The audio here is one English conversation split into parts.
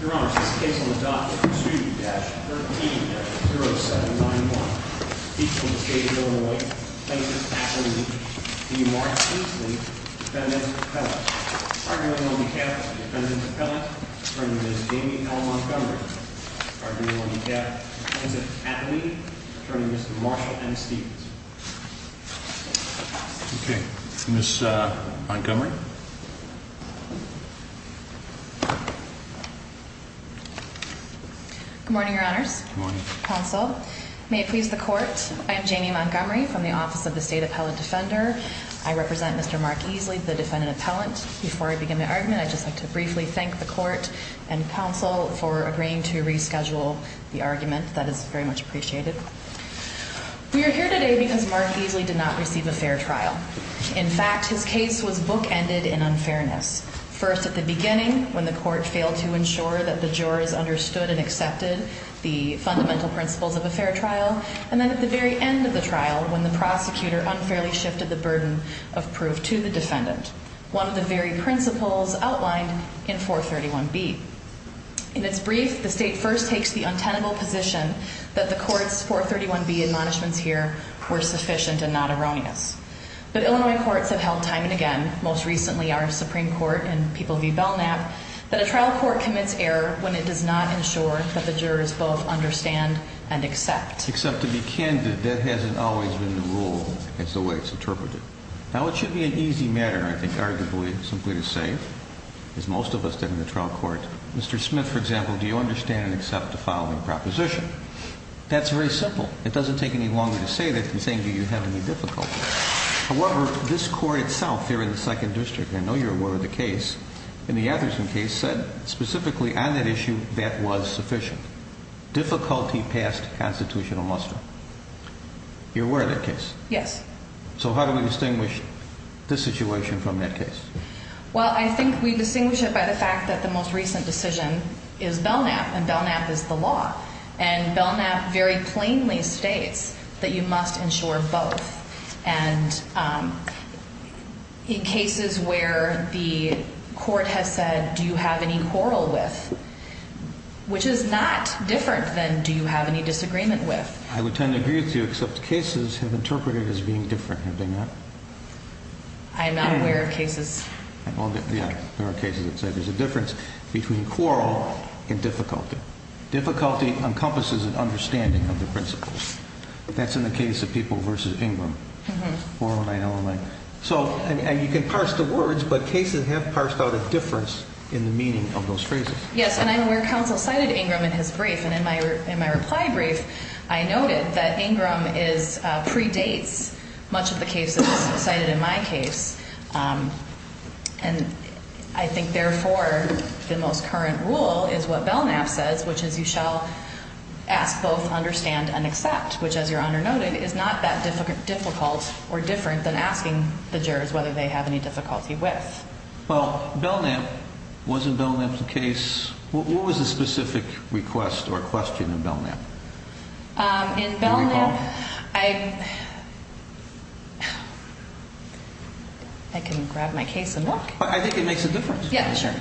Your Honor, this case on the docket, proceeding to dash 13-0791, Beachville, D.C., Illinois, plaintiff's affidavit, D. Mark Easley, defendant's appellant. Arguing on behalf of the defendant's appellant, attorney, Ms. Amy L. Montgomery. Arguing on behalf of the defendant's affidavit, attorney, Mr. Marshall M. Stevens. Okay, Ms. Montgomery. Good morning, Your Honors. Good morning. Counsel, may it please the court, I am Jamie Montgomery from the Office of the State Appellant Defender. I represent Mr. Mark Easley, the defendant appellant. Before I begin my argument, I'd just like to briefly thank the court and counsel for agreeing to reschedule the argument. That is very much appreciated. We are here today because Mark Easley did not receive a fair trial. In fact, his case was bookended in unfairness. First at the beginning, when the court failed to ensure that the jurors understood and accepted the fundamental principles of a fair trial. And then at the very end of the trial, when the prosecutor unfairly shifted the burden of proof to the defendant. One of the very principles outlined in 431B. In its brief, the state first takes the untenable position that the court's 431B admonishments here were sufficient and not erroneous. But Illinois courts have held time and again, most recently our Supreme Court and People v. Belknap, that a trial court commits error when it does not ensure that the jurors both understand and accept. Except to be candid, that hasn't always been the rule. That's the way it's interpreted. Now, it should be an easy matter, I think, arguably, simply to say, as most of us did in the trial court, Mr. Smith, for example, do you understand and accept the following proposition? That's very simple. It doesn't take any longer to say that than saying do you have any difficulty. However, this court itself here in the Second District, and I know you're aware of the case, in the Atherson case said specifically on that issue that was sufficient. Difficulty passed constitutional muster. You're aware of that case? Yes. So how do we distinguish this situation from that case? Well, I think we distinguish it by the fact that the most recent decision is Belknap, and Belknap is the law. And Belknap very plainly states that you must ensure both. And in cases where the court has said do you have any quarrel with, which is not different than do you have any disagreement with. I would tend to agree with you, except cases have interpreted it as being different. Have they not? I am not aware of cases. Yeah, there are cases that say there's a difference between quarrel and difficulty. Difficulty encompasses an understanding of the principles. That's in the case of people versus Ingram, 409-009. So you can parse the words, but cases have parsed out a difference in the meaning of those phrases. Yes, and I'm aware counsel cited Ingram in his brief, and in my reply brief I noted that Ingram predates much of the cases cited in my case. And I think, therefore, the most current rule is what Belknap says, which is you shall ask both understand and accept, which as Your Honor noted is not that difficult or different than asking the jurors whether they have any difficulty with. Well, Belknap, was it Belknap's case? What was the specific request or question in Belknap? In Belknap, I can grab my case and look. I think it makes a difference. Yeah, sure.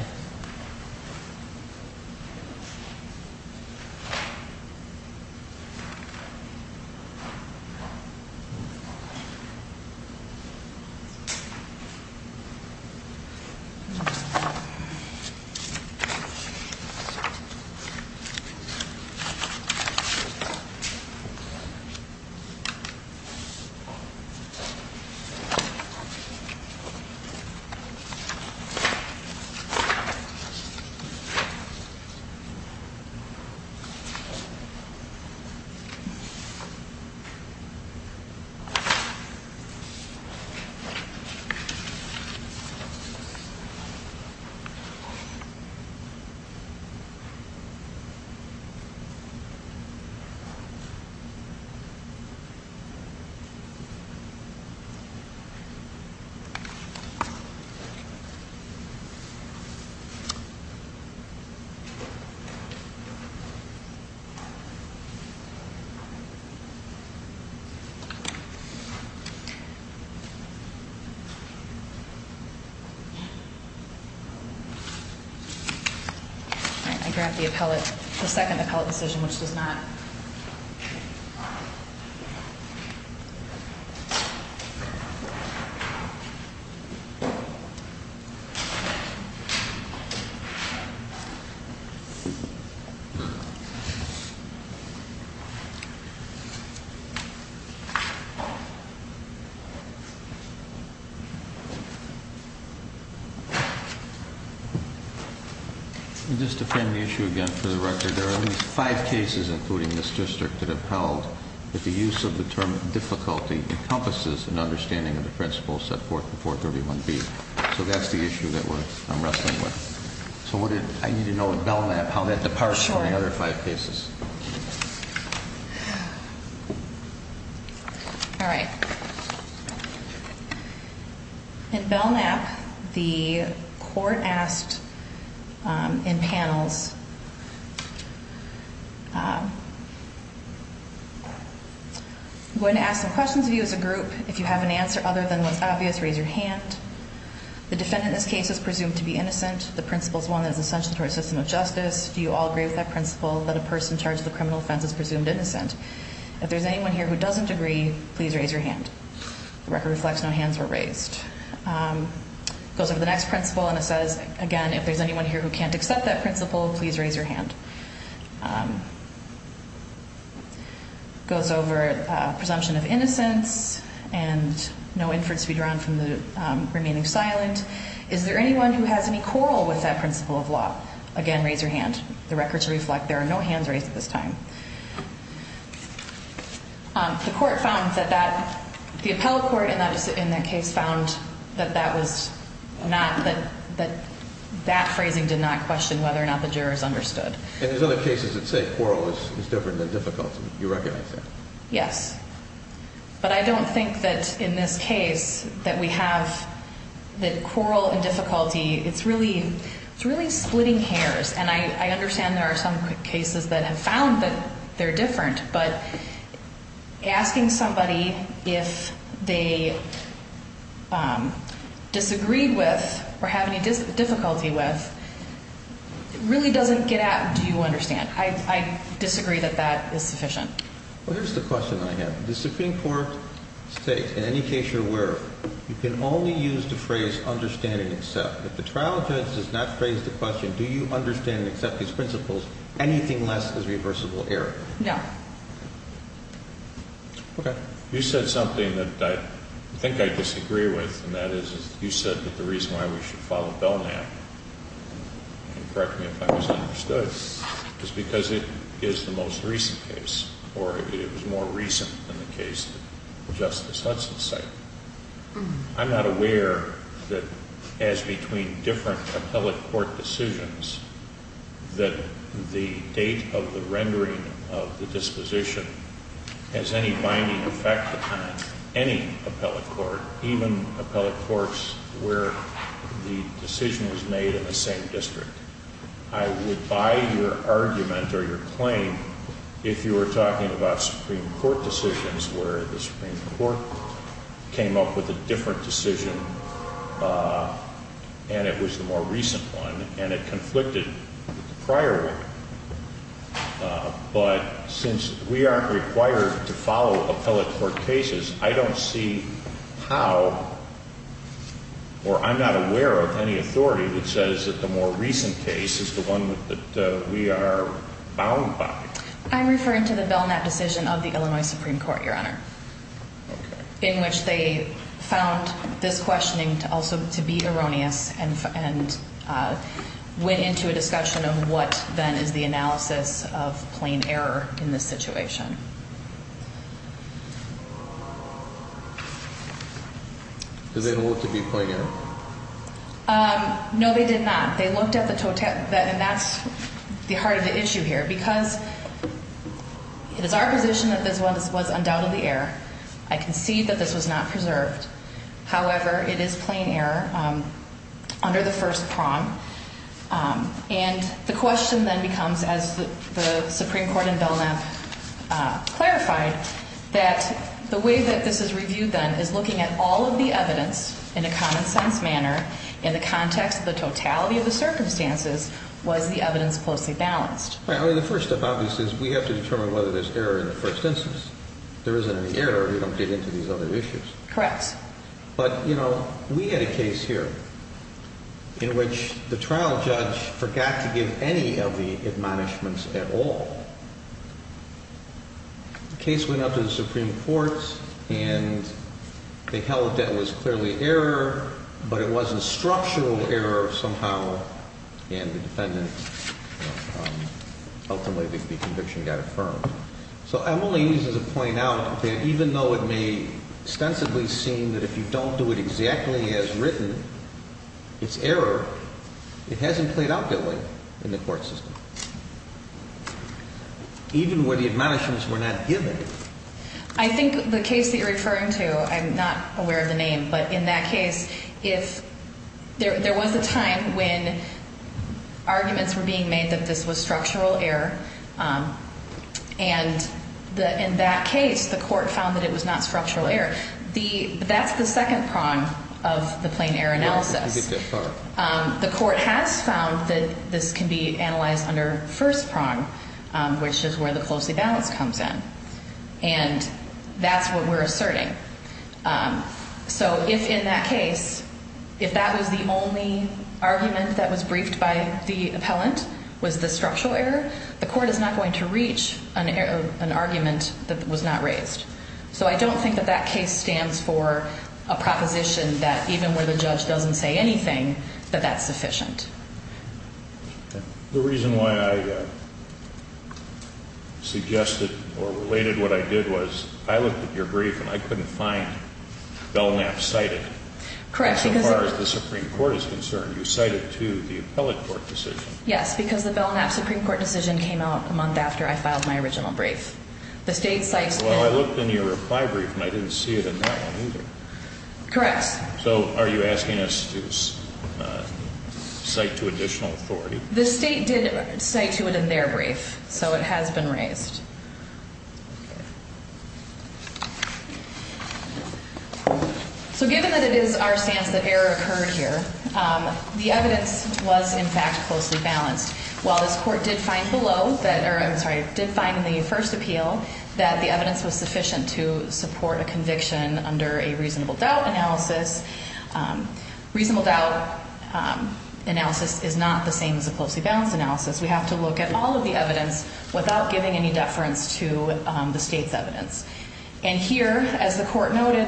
Thank you. Thank you. Thank you. Thank you. Thank you. Thank you. Thank you. Thank you. Thank you. Thank you. Thank you. Thank you. Thank you. Thank you. I'm going to ask some questions of you as a group. If you have an answer other than what's obvious, raise your hand. The defendant in this case is presumed to be innocent. The principle is one that is essential to our system of justice. Do you all agree with that principle that a person charged with a criminal offense is presumed innocent? If there's anyone here who doesn't agree, please raise your hand. The record reflects no hands were raised. It goes over the next principle and it says, again, if there's anyone here who can't accept that principle, please raise your hand. Goes over presumption of innocence and no inference to be drawn from the remaining silent. Is there anyone who has any quarrel with that principle of law? Again, raise your hand. The records reflect there are no hands raised at this time. The court found that the appellate court in that case found that that phrasing did not question whether or not the jurors understood. And there's other cases that say quarrel is different than difficulty. You recognize that? Yes. But I don't think that in this case that we have that quarrel and difficulty, it's really splitting hairs. And I understand there are some cases that have found that they're different, but asking somebody if they disagreed with or have any difficulty with really doesn't get at do you understand. I disagree that that is sufficient. Well, here's the question I have. Does the Supreme Court state, in any case you're aware of, you can only use the phrase understand and accept. If the trial defense does not phrase the question, do you understand and accept these principles, anything less is reversible error? No. Okay. You said something that I think I disagree with, and that is you said that the reason why we should follow Belknap, and correct me if I was understood, is because it is the most recent case, or it was more recent than the case of Justice Hudson's site. I'm not aware that as between different appellate court decisions that the date of the rendering of the disposition has any binding effect on any appellate court, even appellate courts where the decision was made in the same district. I would buy your argument or your claim if you were talking about Supreme Court decisions where the Supreme Court came up with a different decision, and it was the more recent one, and it conflicted with the prior one. But since we aren't required to follow appellate court cases, I don't see how, or I'm not aware of any authority that says that the more recent case is the one that we are bound by. I'm referring to the Belknap decision of the Illinois Supreme Court, Your Honor, in which they found this questioning also to be erroneous, and went into a discussion of what then is the analysis of plain error in this situation. Did they look to be plain error? No, they did not. They looked at the, and that's the heart of the issue here, because it is our position that this was undoubtedly error. I concede that this was not preserved. However, it is plain error under the first prong, and the question then becomes, as the Supreme Court in Belknap clarified, that the way that this is reviewed then is looking at all of the evidence in a common-sense manner in the context of the totality of the circumstances was the evidence closely balanced. Right, I mean, the first step, obviously, is we have to determine whether there's error in the first instance. If there isn't any error, we don't get into these other issues. Correct. But, you know, we had a case here in which the trial judge forgot to give any of the admonishments at all. The case went up to the Supreme Court, and they held that it was clearly error, but it was a structural error somehow, and the defendant ultimately, the conviction got affirmed. So I'm only used as a point out that even though it may ostensibly seem that if you don't do it exactly as written, it's error, it hasn't played out that way in the court system, even where the admonishments were not given. I think the case that you're referring to, I'm not aware of the name, but in that case, if there was a time when arguments were being made that this was structural error, and the in that case, the court found that it was not structural error, that's the second prong of the plain error analysis. The court has found that this can be analyzed under first prong, which is where the closely balanced comes in, and that's what we're asserting. So if in that case, if that was the only argument that was briefed by the appellant, was the only argument that was not raised. So I don't think that that case stands for a proposition that even where the judge doesn't say anything, that that's sufficient. The reason why I suggested or related what I did was I looked at your brief, and I couldn't find Belknap cited, so far as the Supreme Court is concerned, you cited to the appellate court decision. Yes, because the Belknap Supreme Court decision came out a month after I filed my original brief. The state cites... Well, I looked in your reply brief, and I didn't see it in that one either. Correct. So are you asking us to cite to additional authority? The state did cite to it in their brief, so it has been raised. So given that it is our stance that error occurred here, the evidence was in fact closely balanced. While this court did find below that, or I'm sorry, did find in the first appeal that the evidence was sufficient to support a conviction under a reasonable doubt analysis. Reasonable doubt analysis is not the same as a closely balanced analysis. We have to look at all of the evidence without giving any deference to the state's evidence. And here, as the court noted,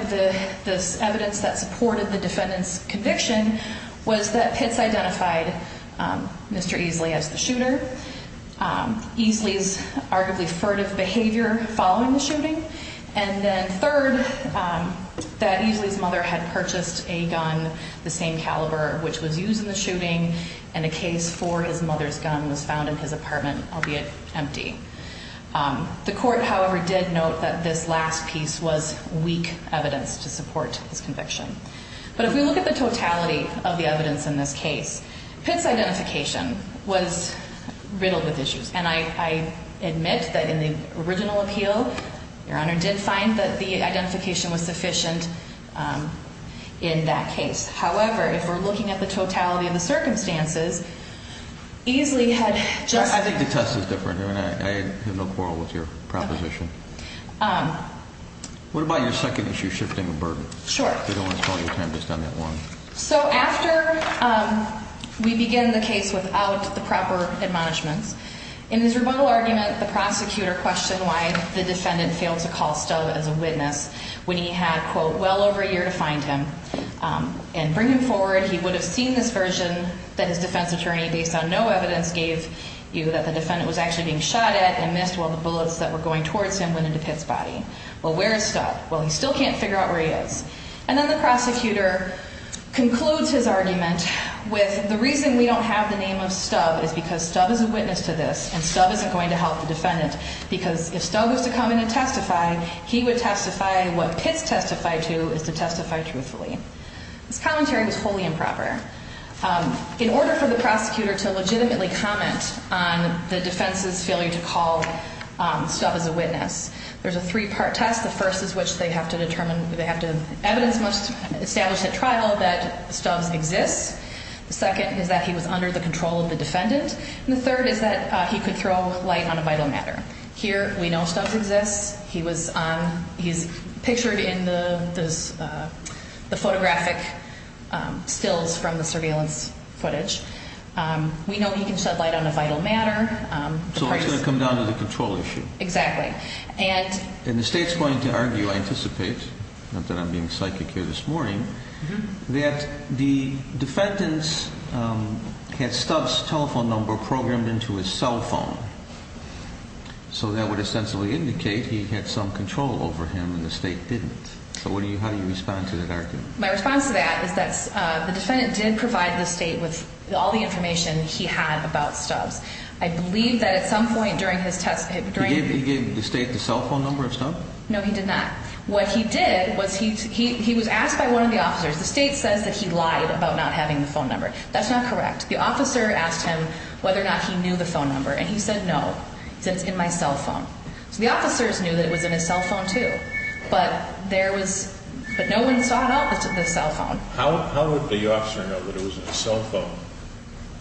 this evidence that supported the defendant's conviction was that Pitts identified Mr. Easley as the shooter, Easley's arguably furtive behavior following the shooting, and then third, that Easley's mother had purchased a gun the same caliber which was used in the shooting, and a case for his mother's gun was found in his apartment, albeit empty. The court, however, did note that this last piece was weak evidence to support his conviction. But if we look at the totality of the evidence in this case, Pitts' identification was riddled with issues, and I admit that in the original appeal, your Honor, did find that the identification was sufficient in that case. However, if we're looking at the totality of the circumstances, Easley had just... I think the test is different. I mean, I have no quarrel with your proposition. Okay. What about your second issue, shifting the burden? Sure. I don't want to spoil your time just on that one. So after we begin the case without the proper admonishments, in his rebuttal argument, the prosecutor questioned why the defendant failed to call Stubb as a witness when he had, quote, well over a year to find him and bring him forward. He would have seen this version that his defense attorney, based on no evidence, gave you that the defendant was actually being shot at and missed while the bullets that were going towards him went into Pitts' body. Well, where is Stubb? Well, he still can't figure out where he is. And then the prosecutor concludes his argument with the reason we don't have the name of Stubb is because Stubb is a witness to this and Stubb isn't going to help the defendant because if Stubb was to come in and testify, he would testify what Pitts testified to is to testify truthfully. This commentary was wholly improper. In order for the prosecutor to legitimately comment on the defense's failure to call Stubb as a witness, there's a three-part test. The first is which they have to determine, they have to establish at trial that Stubb exists. The second is that he was under the control of the defendant. And the third is that he could throw light on a vital matter. Here, we know Stubb exists. He's pictured in the photographic stills from the surveillance footage. We know he can shed light on a vital matter. So that's going to come down to the control issue. Exactly. And the state's going to argue, I anticipate, not that I'm being psychic here this morning, that the defendant had Stubb's telephone number programmed into his cell phone. So that would essentially indicate he had some control over him and the state didn't. So how do you respond to that argument? My response to that is that the defendant did provide the state with all the information he had about Stubb. I believe that at some point during his testimony... He gave the state the cell phone number of Stubb? No, he did not. What he did was he was asked by one of the officers, the state says that he lied about not having the phone number. That's not correct. The officer asked him whether or not he knew the phone number. And he said, no. He said, it's in my cell phone. So the officers knew that it was in his cell phone, too. But there was... But no one saw it on the cell phone. How would the officer know that it was in his cell phone?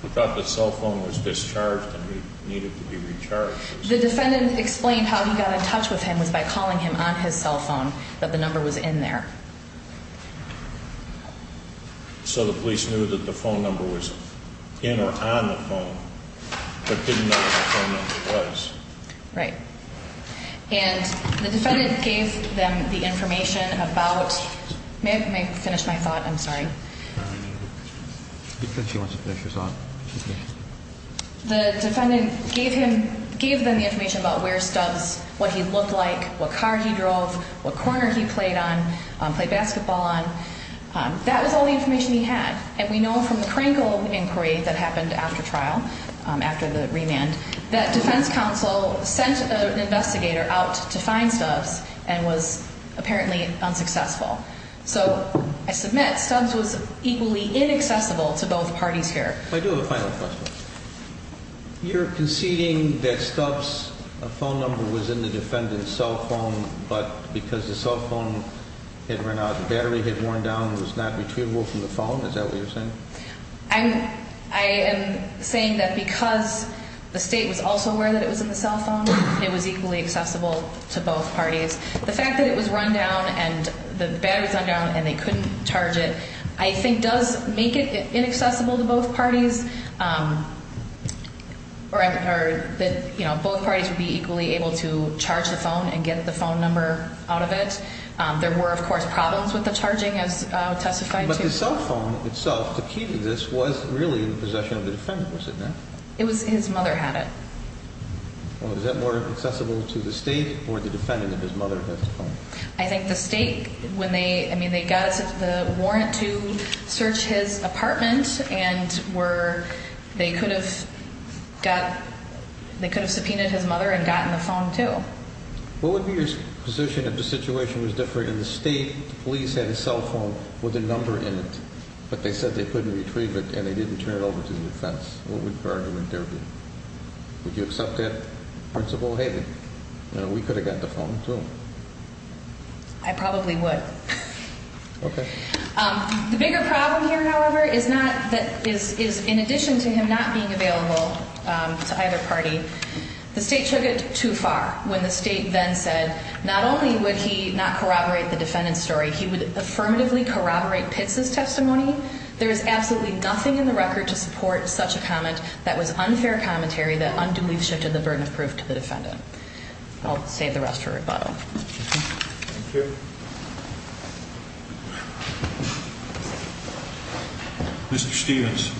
He thought the cell phone was discharged and needed to be recharged. The defendant explained how he got in touch with him was by calling him on his cell phone that the number was in there. So the police knew that the phone number was in or on the phone, but didn't know what the phone number was. Right. And the defendant gave them the information about... May I finish my thought? I'm sorry. She wants to finish her thought. The defendant gave him... Gave them the information about where Stubbs, what he looked like, what car he drove, what corner he played on, played basketball on. That was all the information he had. And we know from the Krankel inquiry that happened after trial, after the remand, that defense counsel sent an investigator out to find Stubbs and was apparently unsuccessful. So I submit Stubbs was equally inaccessible to both parties here. I do have a final question. You're conceding that Stubbs' phone number was in the defendant's cell phone, but because the cell phone had run out, the battery had worn down and was not retrievable from the phone? Is that what you're saying? I am saying that because the state was also aware that it was in the cell phone, it was equally accessible to both parties. The fact that it was run down and the battery was run down and they couldn't charge it, I think does make it inaccessible to both parties or that both parties would be equally able to charge the phone and get the phone number out of it. There were, of course, problems with the charging as testified to. But the cell phone itself, the key to this, was really in possession of the defendant, was it not? His mother had it. Is that more accessible to the state or the defendant that his mother had the phone? I think the state, when they got the warrant to search his apartment and they could have subpoenaed his mother and gotten the phone too. What would be your position if the situation was different and the state police had a cell phone with a number in it, but they said they couldn't retrieve it and they didn't turn it over to the defense? What would your argument there be? Would you accept that, Principal Haley? We could have got the phone too. I probably would. Okay. The bigger problem here, however, is in addition to him not being available to either party, the state took it too far when the state then said not only would he not corroborate the defendant's story, he would affirmatively corroborate Pitts' testimony. There is absolutely nothing in the record to support such a comment that was unfair commentary that unduly shifted the burden of proof to the defendant. I'll save the rest for rebuttal. Thank you. Mr. Stevens.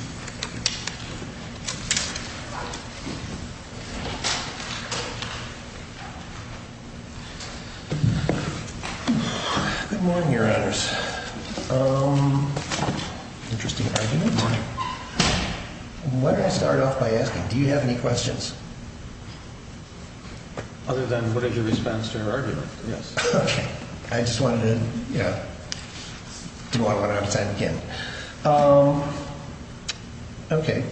Good morning, Your Honors. Interesting argument. Why don't I start off by asking, do you have any questions? Other than what is your response to her argument, yes. Okay. I just wanted to, you know, do a lot of what I was saying again. Okay.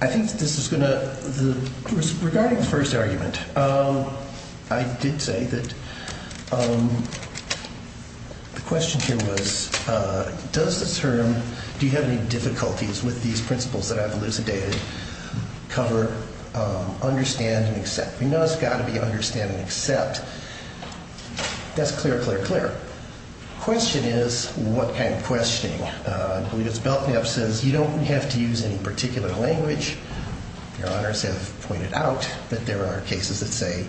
I think this is going to, regarding the first argument, I did say that the question here was, does the term, do you have any difficulties with these principles that I've elucidated, cover, understand and accept? We know it's got to be understand and accept. That's clear, clear, clear. The question is, what kind of questioning? I believe it's built me up, says you don't have to use any particular language. Your Honors have pointed out that there are cases that say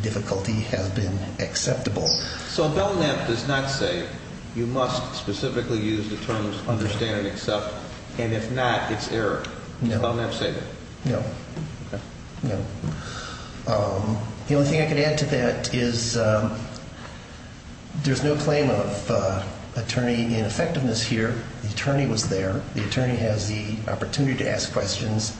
difficulty has been acceptable. So Belknap does not say you must specifically use the terms understand and accept, and if not, it's error. No. Does Belknap say that? No. Okay. No. The only thing I can add to that is, there's no claim of attorney ineffectiveness here. The attorney was there. The attorney has the opportunity to ask questions.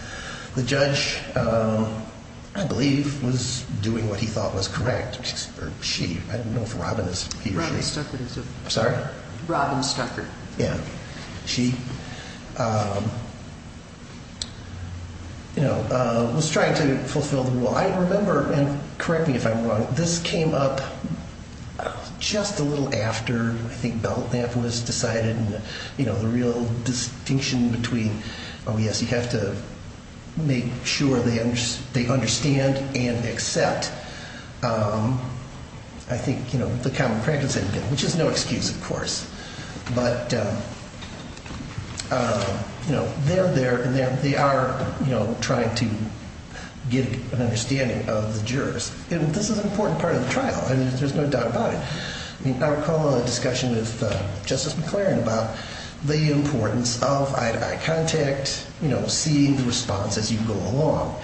The judge, I believe, was doing what he thought was correct, or she, I don't know if Robin is, he or she. Robin Stuckert is it? I'm sorry? Robin Stuckert. Yeah. She, you know, was trying to fulfill the rule. I remember, and correct me if I'm wrong, this came up just a little after I think Belknap was decided and, you know, the real distinction between, oh, yes, you have to make sure they understand and accept. I think, you know, the common practice had been, which is no excuse, of course. But, you know, they're there and they are, you know, trying to get an understanding of the jurors. And this is an important part of the trial. I mean, there's no doubt about it. I recall a discussion with Justice McClaren about the importance of eye-to-eye contact, you know, seeing the response as you go along.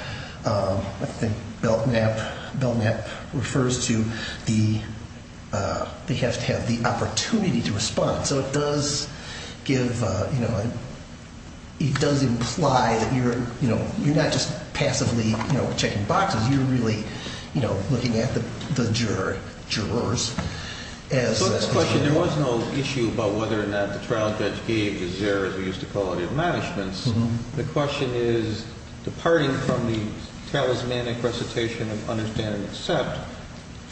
I think Belknap refers to the, they have to have the opportunity to respond. So it does give, you know, it does imply that you're, you know, you're not just passively, you know, checking boxes. You're really, you know, looking at the jurors. So this question, there was no issue about whether or not the trial judge gave his error, as we used to call it in managements. The question is, departing from the talismanic recitation of understand and accept,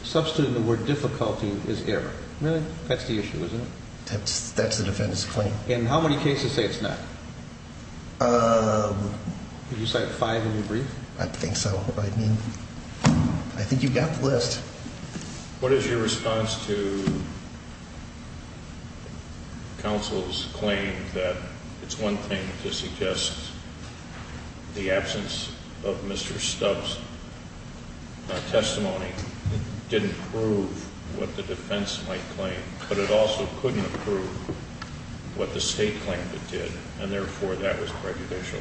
substituting the word difficulty is error. Really? That's the issue, isn't it? That's the defendant's claim. And how many cases say it's not? Did you cite five in your brief? I think so. I mean, I think you've got the list. What is your response to counsel's claim that it's one thing to suggest the absence of Mr. Stubbs' testimony didn't prove what the defense might claim, but it also couldn't prove what the state claimed it did, and therefore that was prejudicial?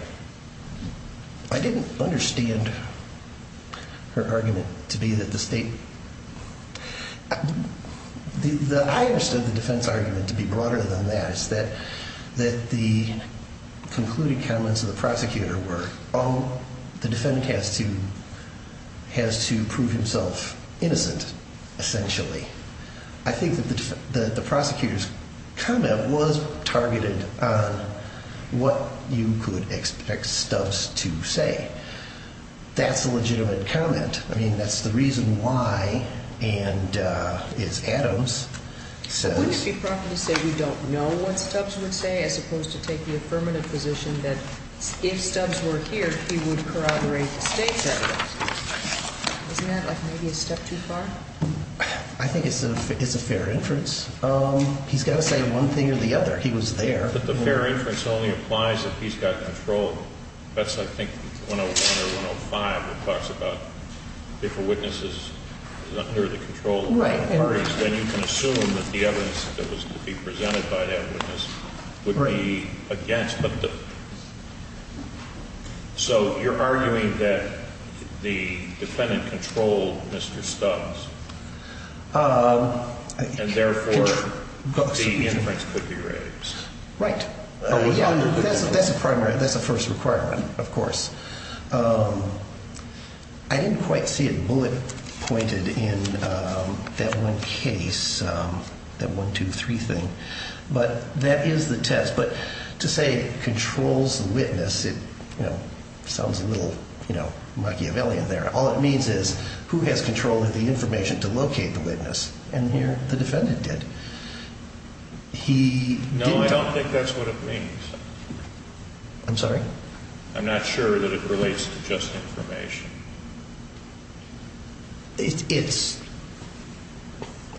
I didn't understand her argument to be that the state... I understood the defense argument to be broader than that. It's that the concluding comments of the prosecutor were, oh, the defendant has to prove himself innocent, essentially. I think that the prosecutor's comment was targeted on what you could expect Stubbs to say. That's a legitimate comment. I mean, that's the reason why, and as Adams says... Wouldn't it be proper to say we don't know what Stubbs would say, as opposed to take the affirmative position that if Stubbs were here, he would corroborate the state's evidence? Isn't that, like, maybe a step too far? I think it's a fair inference. He's got to say one thing or the other. He was there. But the fair inference only applies if he's got control. That's, I think, 101 or 105, that talks about if a witness is under the control of the attorneys, then you can assume that the evidence that was to be presented by that witness would be against. So you're arguing that the defendant controlled Mr. Stubbs, and therefore, the inference could be raised. Right. That's a first requirement, of course. I didn't quite see it bullet-pointed in that one case, that 1, 2, 3 thing. But that is the test. But to say it controls the witness, it sounds a little Machiavellian there. All it means is, who has control of the information to locate the witness? And here, the defendant did. He didn't... No, I don't think that's what it means. I'm sorry? I'm not sure that it relates to just information. It's...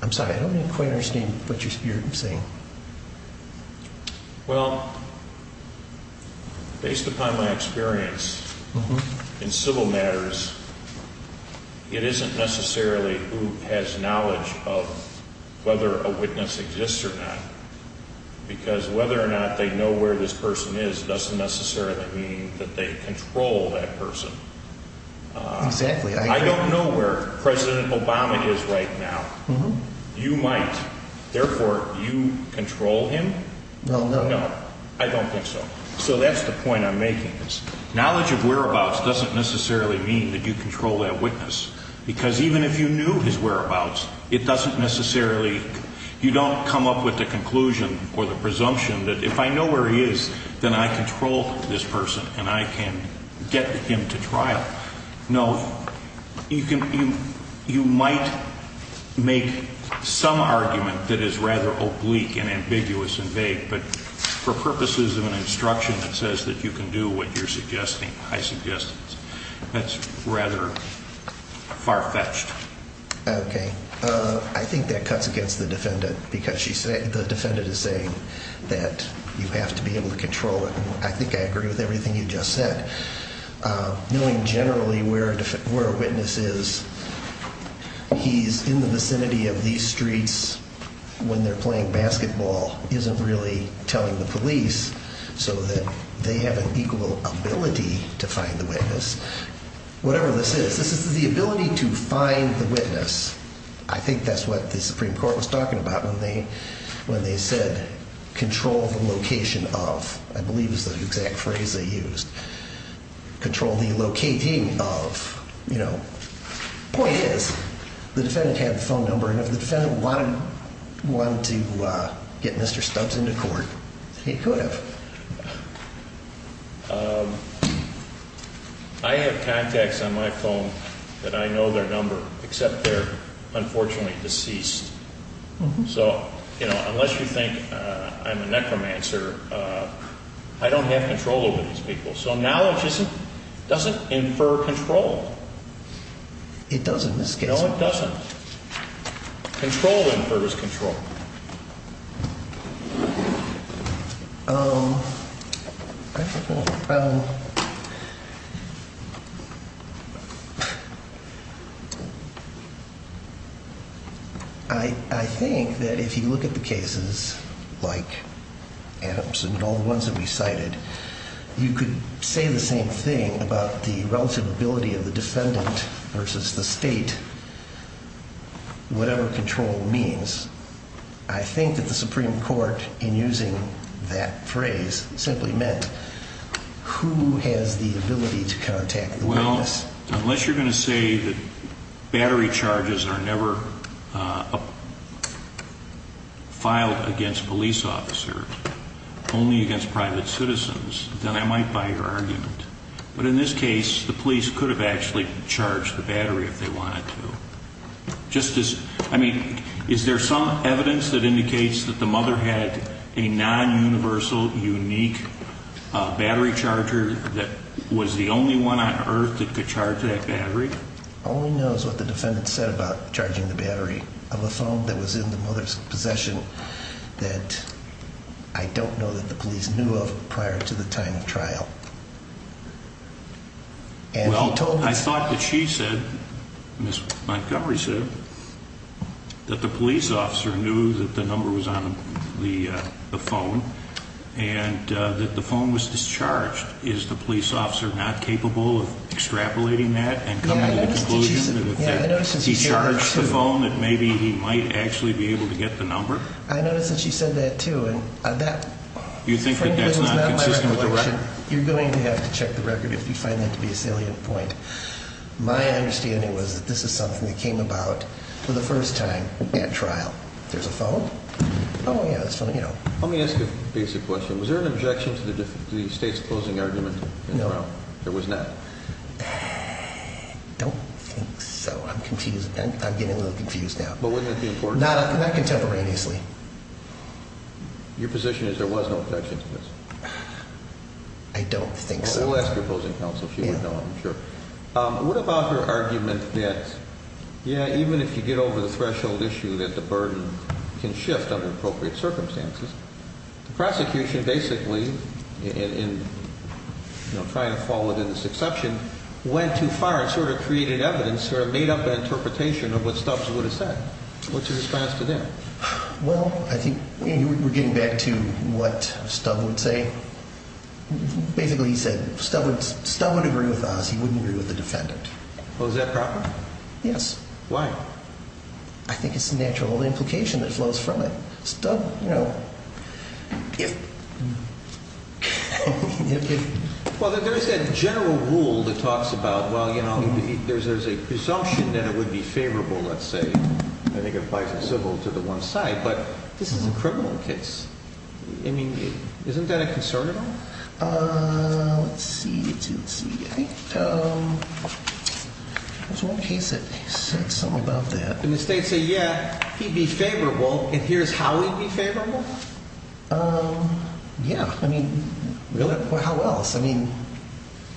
I'm sorry, I don't quite understand what you're saying. Well, based upon my experience in civil matters, it isn't necessarily who has knowledge of whether a witness exists or not, because whether or not they know where this person is doesn't necessarily mean that they control that person. Exactly. I don't know where President Obama is right now. You might. Therefore, you control him? No, no. No. I don't think so. So that's the point I'm making. Knowledge of whereabouts doesn't necessarily mean that you control that witness, because even if you knew his whereabouts, it doesn't necessarily... You don't come up with the conclusion or the presumption that if I know where he is, then I control this person and I can get him to trial. No. You can... You might make some argument that is rather oblique and ambiguous and vague, but for purposes of an instruction that says that you can do what you're suggesting, I suggest that's rather far-fetched. Okay. I think that cuts against the defendant, because the defendant is saying that you have to be able to control it, and I think I agree with everything you just said. Knowing generally where a witness is, he's in the vicinity of these streets when they're playing basketball isn't really telling the police so that they have an equal ability to find the witness. Whatever this is, this is the ability to find the witness. I think that's what the Supreme Court was talking about when they said, control the location of. I believe it was the exact phrase they used. Control the locating of, you know. Point is, the defendant had the phone number, and if the defendant wanted to get Mr. Stubbs into court, he could have. But I have contacts on my phone that I know their number, except they're unfortunately deceased. So, you know, unless you think I'm a necromancer, I don't have control over these people. So knowledge doesn't infer control. It doesn't in this case. No, it doesn't. Control infers control. Um... I think that if you look at the cases like Adamson and all the ones that we cited, you could say the same thing about the relative ability of the defendant versus the state, whatever control means. I think that the Supreme Court, in using that phrase, simply meant who has the ability to contact the witness. Well, unless you're going to say that battery charges are never, uh... filed against police officers, only against private citizens, then I might buy your argument. But in this case, the police could have actually charged the battery if they wanted to. Just as, I mean, is there some evidence that indicates that the mother had a non-universal, unique battery charger that was the only one on Earth that could charge that battery? All we know is what the defendant said about charging the battery of a phone that was in the mother's possession that I don't know that the police knew of prior to the time of trial. And he told... Well, I thought that she said, Ms. Montgomery said, that the police officer knew that the number was on the phone and that the phone was discharged. Is the police officer not capable of extrapolating that and coming to the conclusion that if he charged the phone that maybe he might actually be able to get the number? I noticed that she said that, too. You think that that's not consistent with the record? You're going to have to check the record if you find that to be a salient point. My understanding was that this is something that came about for the first time at trial. There's a phone? Oh, yeah, that's funny. Let me ask you a basic question. Was there an objection to the state's opposing argument? No. There was not? I don't think so. I'm confused. I'm getting a little confused now. But wouldn't it be important? Not contemporaneously. Your position is there was no objection to this? I don't think so. We'll ask your opposing counsel. She would know, I'm sure. What about her argument that, yeah, even if you get over the threshold issue that the burden can shift under appropriate circumstances, the prosecution basically, in trying to fall within this exception, went too far and sort of created evidence or made up an interpretation of what Stubbs would have said. What's your response to that? Well, I think we're getting back to what Stubbs would say. Basically, he said, Stubbs would agree with us. Otherwise, he wouldn't agree with the defendant. Was that proper? Yes. Why? I think it's natural implication that flows from it. Stubbs, you know... If... If... Well, there's that general rule that talks about, well, you know, there's an assumption that it would be favorable, let's say. I think it applies to civil to the one side. But this is a criminal case. I mean, isn't that a concern at all? Uh... Let's see. Let's see. Let's see. I think, um... There's one case that said something about that. Did the state say, yeah, he'd be favorable and here's how he'd be favorable? Um... Yeah. I mean, really? How else? I mean,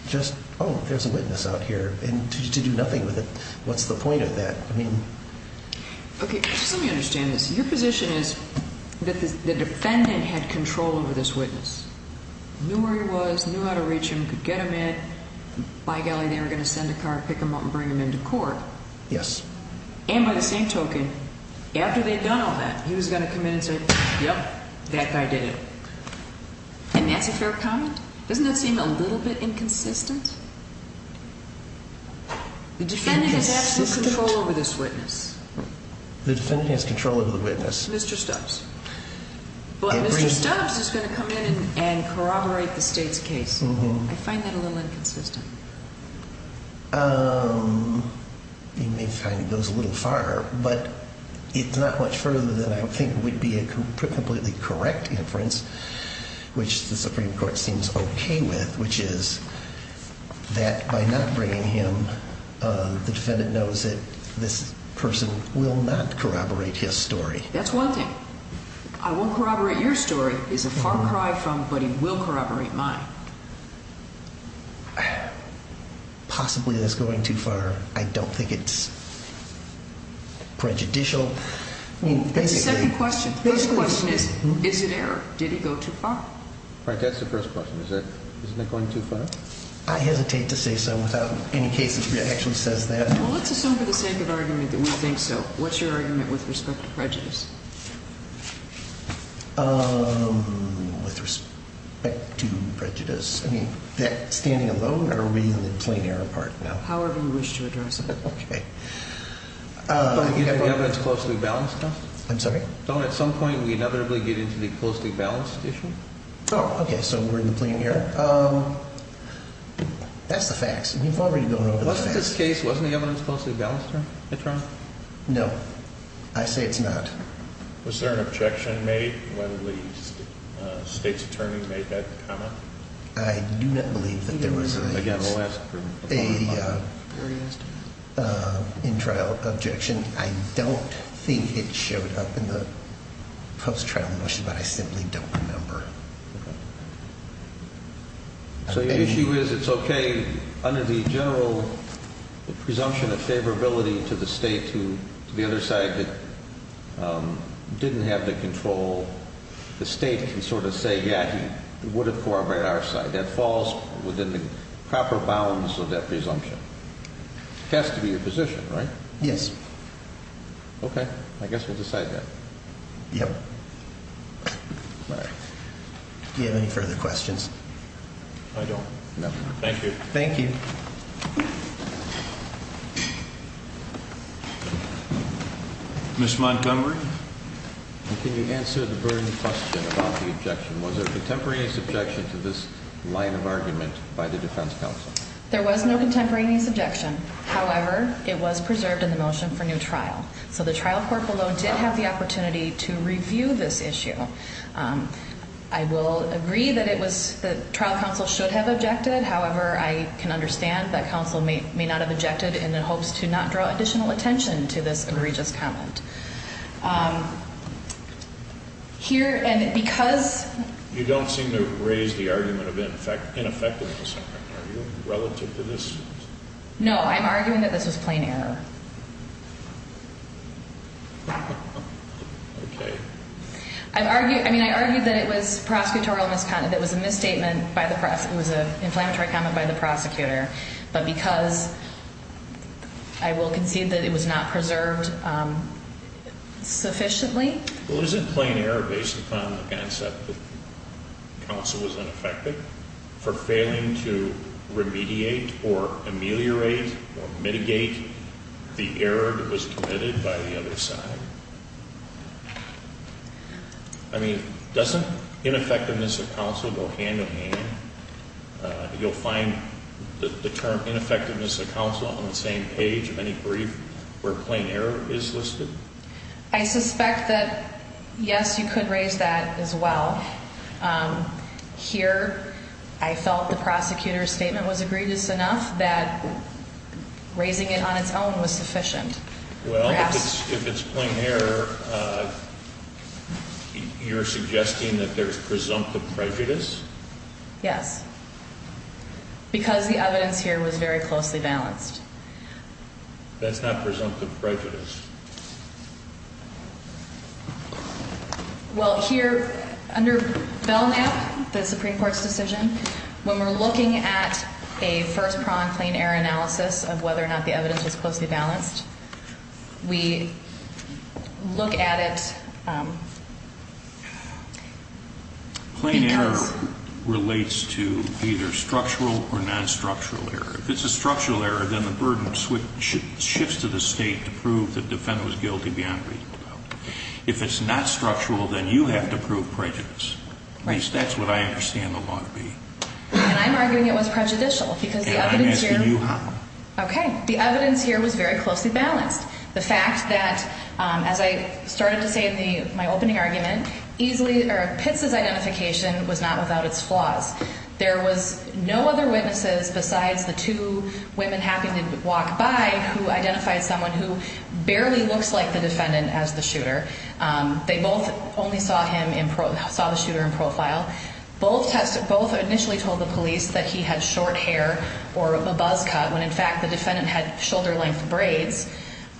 just, oh, there's a witness out here and to do nothing with it. What's the point of that? I mean... Okay, just let me understand this. Your position is that the defendant had control over this witness, knew where he was, knew how to reach him, could get him in. By golly, they were going to send a car and pick him up and bring him into court. Yes. And by the same token, after they'd done all that, he was going to come in and say, yep, that guy did it. And that's a fair comment? Doesn't that seem a little bit inconsistent? Inconsistent? The defendant has absolute control over this witness. The defendant has control over the witness. Mr. Stubbs. But Mr. Stubbs is going to come in and corroborate the state's case. I find that a little inconsistent. You may find it goes a little far, but it's not much further than I think would be a completely correct inference, which the Supreme Court seems okay with, which is that by not bringing him, the defendant knows that this person will not corroborate his story. That's one thing. I won't corroborate your story is a far cry from but he will corroborate mine. Possibly that's going too far. I don't think it's prejudicial. The second question, the first question is, is it error? Did he go too far? Frank, that's the first question. Isn't it going too far? I hesitate to say so without any case that actually says that. Well, let's assume for the sake of argument that we think so. What's your argument with respect to prejudice? With respect to prejudice? I mean that standing alone or are we in the plain error part now? However you wish to address it. Okay. Is the evidence closely balanced? I'm sorry? Don't at some point we inevitably get into the closely balanced issue? Oh, okay, so we're in the plain error. That's the facts. We've already gone over the facts. Wasn't this case, wasn't the evidence closely balanced? No. I say it's not. Was there an objection made when the state's attorney made that comment? I do not believe that there was a in-trial objection. I don't think it showed up in the post-trial motion but I simply don't remember. Okay. So your issue is it's okay under the general presumption of favorability to the state who to the other side didn't have the control the state can sort of say, yeah, he would have corroborated our side. That falls within the proper bounds of that presumption. It has to be your position, right? Yes. Okay, I guess we'll decide that. Yep. Do you have any further questions? I don't. Thank you. Thank you. Ms. Montgomery? Can you answer the burning question about the objection? Was there contemporaneous objection to this line of argument by the defense counsel? There was no contemporaneous objection. However, it was preserved in the motion for new trial. So the trial court below did have the opportunity to review this issue. I will agree that it was the trial counsel should have objected. However, I can understand that counsel may not have objected in hopes to not draw additional attention to this egregious comment. Here, and because You don't seem to raise the argument of ineffectiveness relative to this? No, I'm arguing that this was plain error. Okay. I mean, I argued that it was prosecutorial misconduct. It was a misstatement by the prosecutor. It was an inflammatory comment by the prosecutor. But because I will concede that it was not preserved sufficiently. Well, isn't plain error based upon the concept that counsel was unaffected for failing to remediate or ameliorate or mitigate the error that was committed by the other side? I mean, doesn't ineffectiveness of counsel go hand to hand? You'll find the term ineffectiveness of counsel on the same page of any brief where plain error is listed? I suspect that, yes, you could raise that as well. Here, I felt the prosecutor's statement was egregious enough that raising it on its own was sufficient. Well, if it's plain error, you're suggesting that there's presumptive prejudice? Yes, because the evidence here was very closely balanced. That's not presumptive prejudice? Well, here, under Belknap, the Supreme Court's decision, when we're looking at a first-prong plain error analysis of whether or not the evidence was closely balanced, we look at it because plain error relates to either structural or non-structural error. If it's a structural error, then the burden shifts to the state to prove that the defendant was guilty beyond reasonable doubt. If it's not structural, then you have to not the evidence was very closely balanced. The fact that, as I started to say in my opening argument, Pitts' identification was not without its flaws. There was no other witnesses besides the two women walking by who identified someone who barely looks like the defendant as the shooter. They both only saw the shooter in profile. Both initially told the police that he had short hair or a buzz cut when in fact the defendant had shoulder-length braids.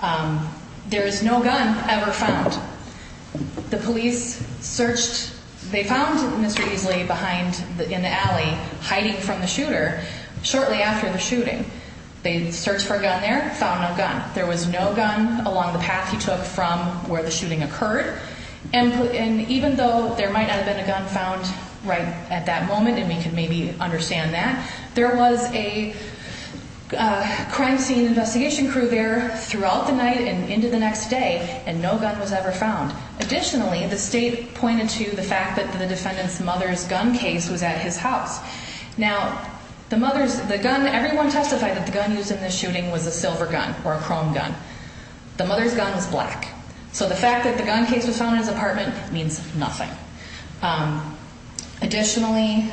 There is no gun ever found. The police searched, they found Mr. Easley behind in the alley hiding from the shooter shortly after the shooting. They searched for a gun there, found no gun. There was no gun along the path he took from where the shooting occurred. And even though there might not have been a gun found right at that moment and we can maybe understand that, there was a crime scene investigation crew there throughout the night and into the next day and no gun was ever found. Additionally, the state pointed to the fact that the defendant's mother's gun case was at his house. Now, the gun, everyone testified that the gun used in this shooting was a silver gun or a chrome gun. The mother's gun was black. So the fact that the gun case was found in his apartment means nothing. Additionally,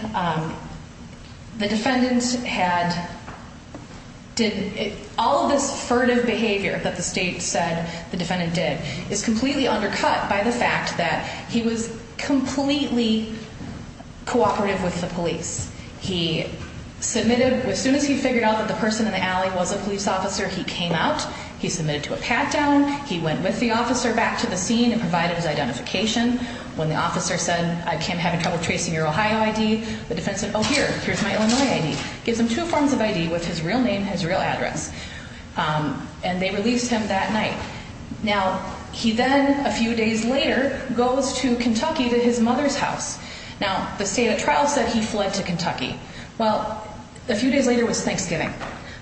the defendant had did all of this furtive behavior that the state said the defendant did is completely undercut by the fact that he was completely cooperative with the police. He submitted, as soon as he figured out that the person in the alley was a police officer, he came out, he submitted to a pat-down, he went with the officer back to the scene and provided his identification. When the officer said, I'm having trouble tracing your Ohio ID, the defense said, okay.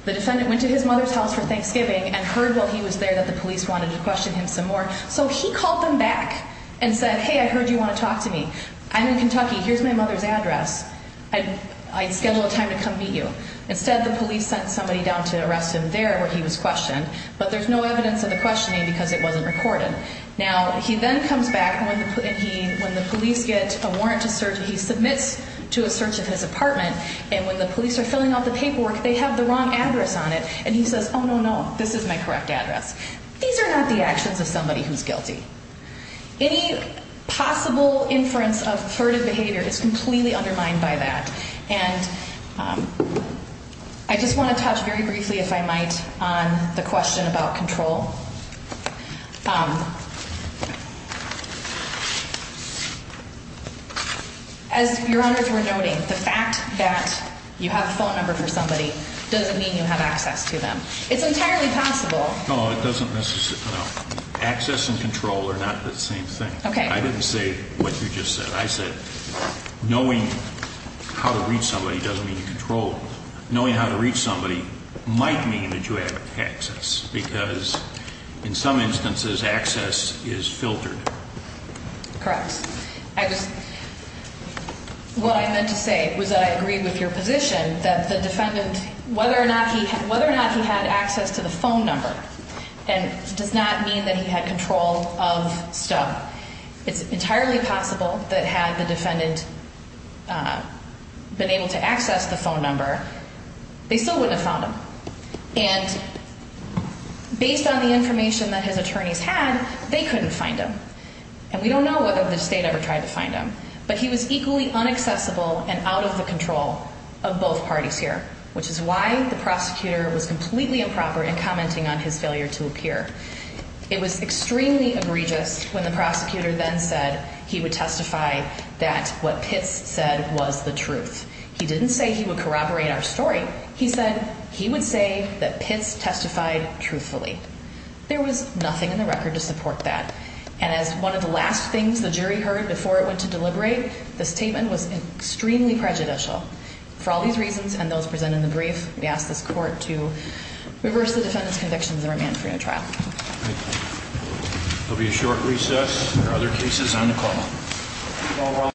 The defendant went to his mother's house for Thanksgiving and heard while he was there that the police wanted to question him some more. So he called them back and said, hey, I heard you want to talk to me. I'm in Kentucky, here's my mother's address. I schedule a time to come meet you. Instead, the police sent somebody down to arrest him there where he was questioned, but there's no evidence of the questioning because it wasn't recorded. Now, he then comes back and when the police get a warrant to search, he submits to a police officer and he says, oh, no, no, this is my correct address. These are not the actions of somebody who's guilty. Any possible inference of furtive behavior is completely undermined by that. And I just want to touch very briefly if I might on the question about control. Um, as your Honor's were noting, the fact that you have a phone number for somebody doesn't mean you have access to them. It's entirely possible. No, it doesn't necessarily, no. Access and control are not the And that might mean that you have access because in some instances access is filtered. Correct. I just, what I meant to say was that I agree with your position that the defendant, whether or not he, whether or not he had access to the phone and based on the information that his attorneys had, they couldn't find him. And we don't know whether the state ever tried to find him. But he was equally unaccessible and out of the control of both parties here. Which is why the prosecutor was completely unaccessible of the control of both parties. And that's why the state was extremely prejudicial for all these reasons and those presented in the brief. We asked this court to reverse the defendant's convictions and remand for no longer. Thank you. There will be a short recess. There are other cases on the call.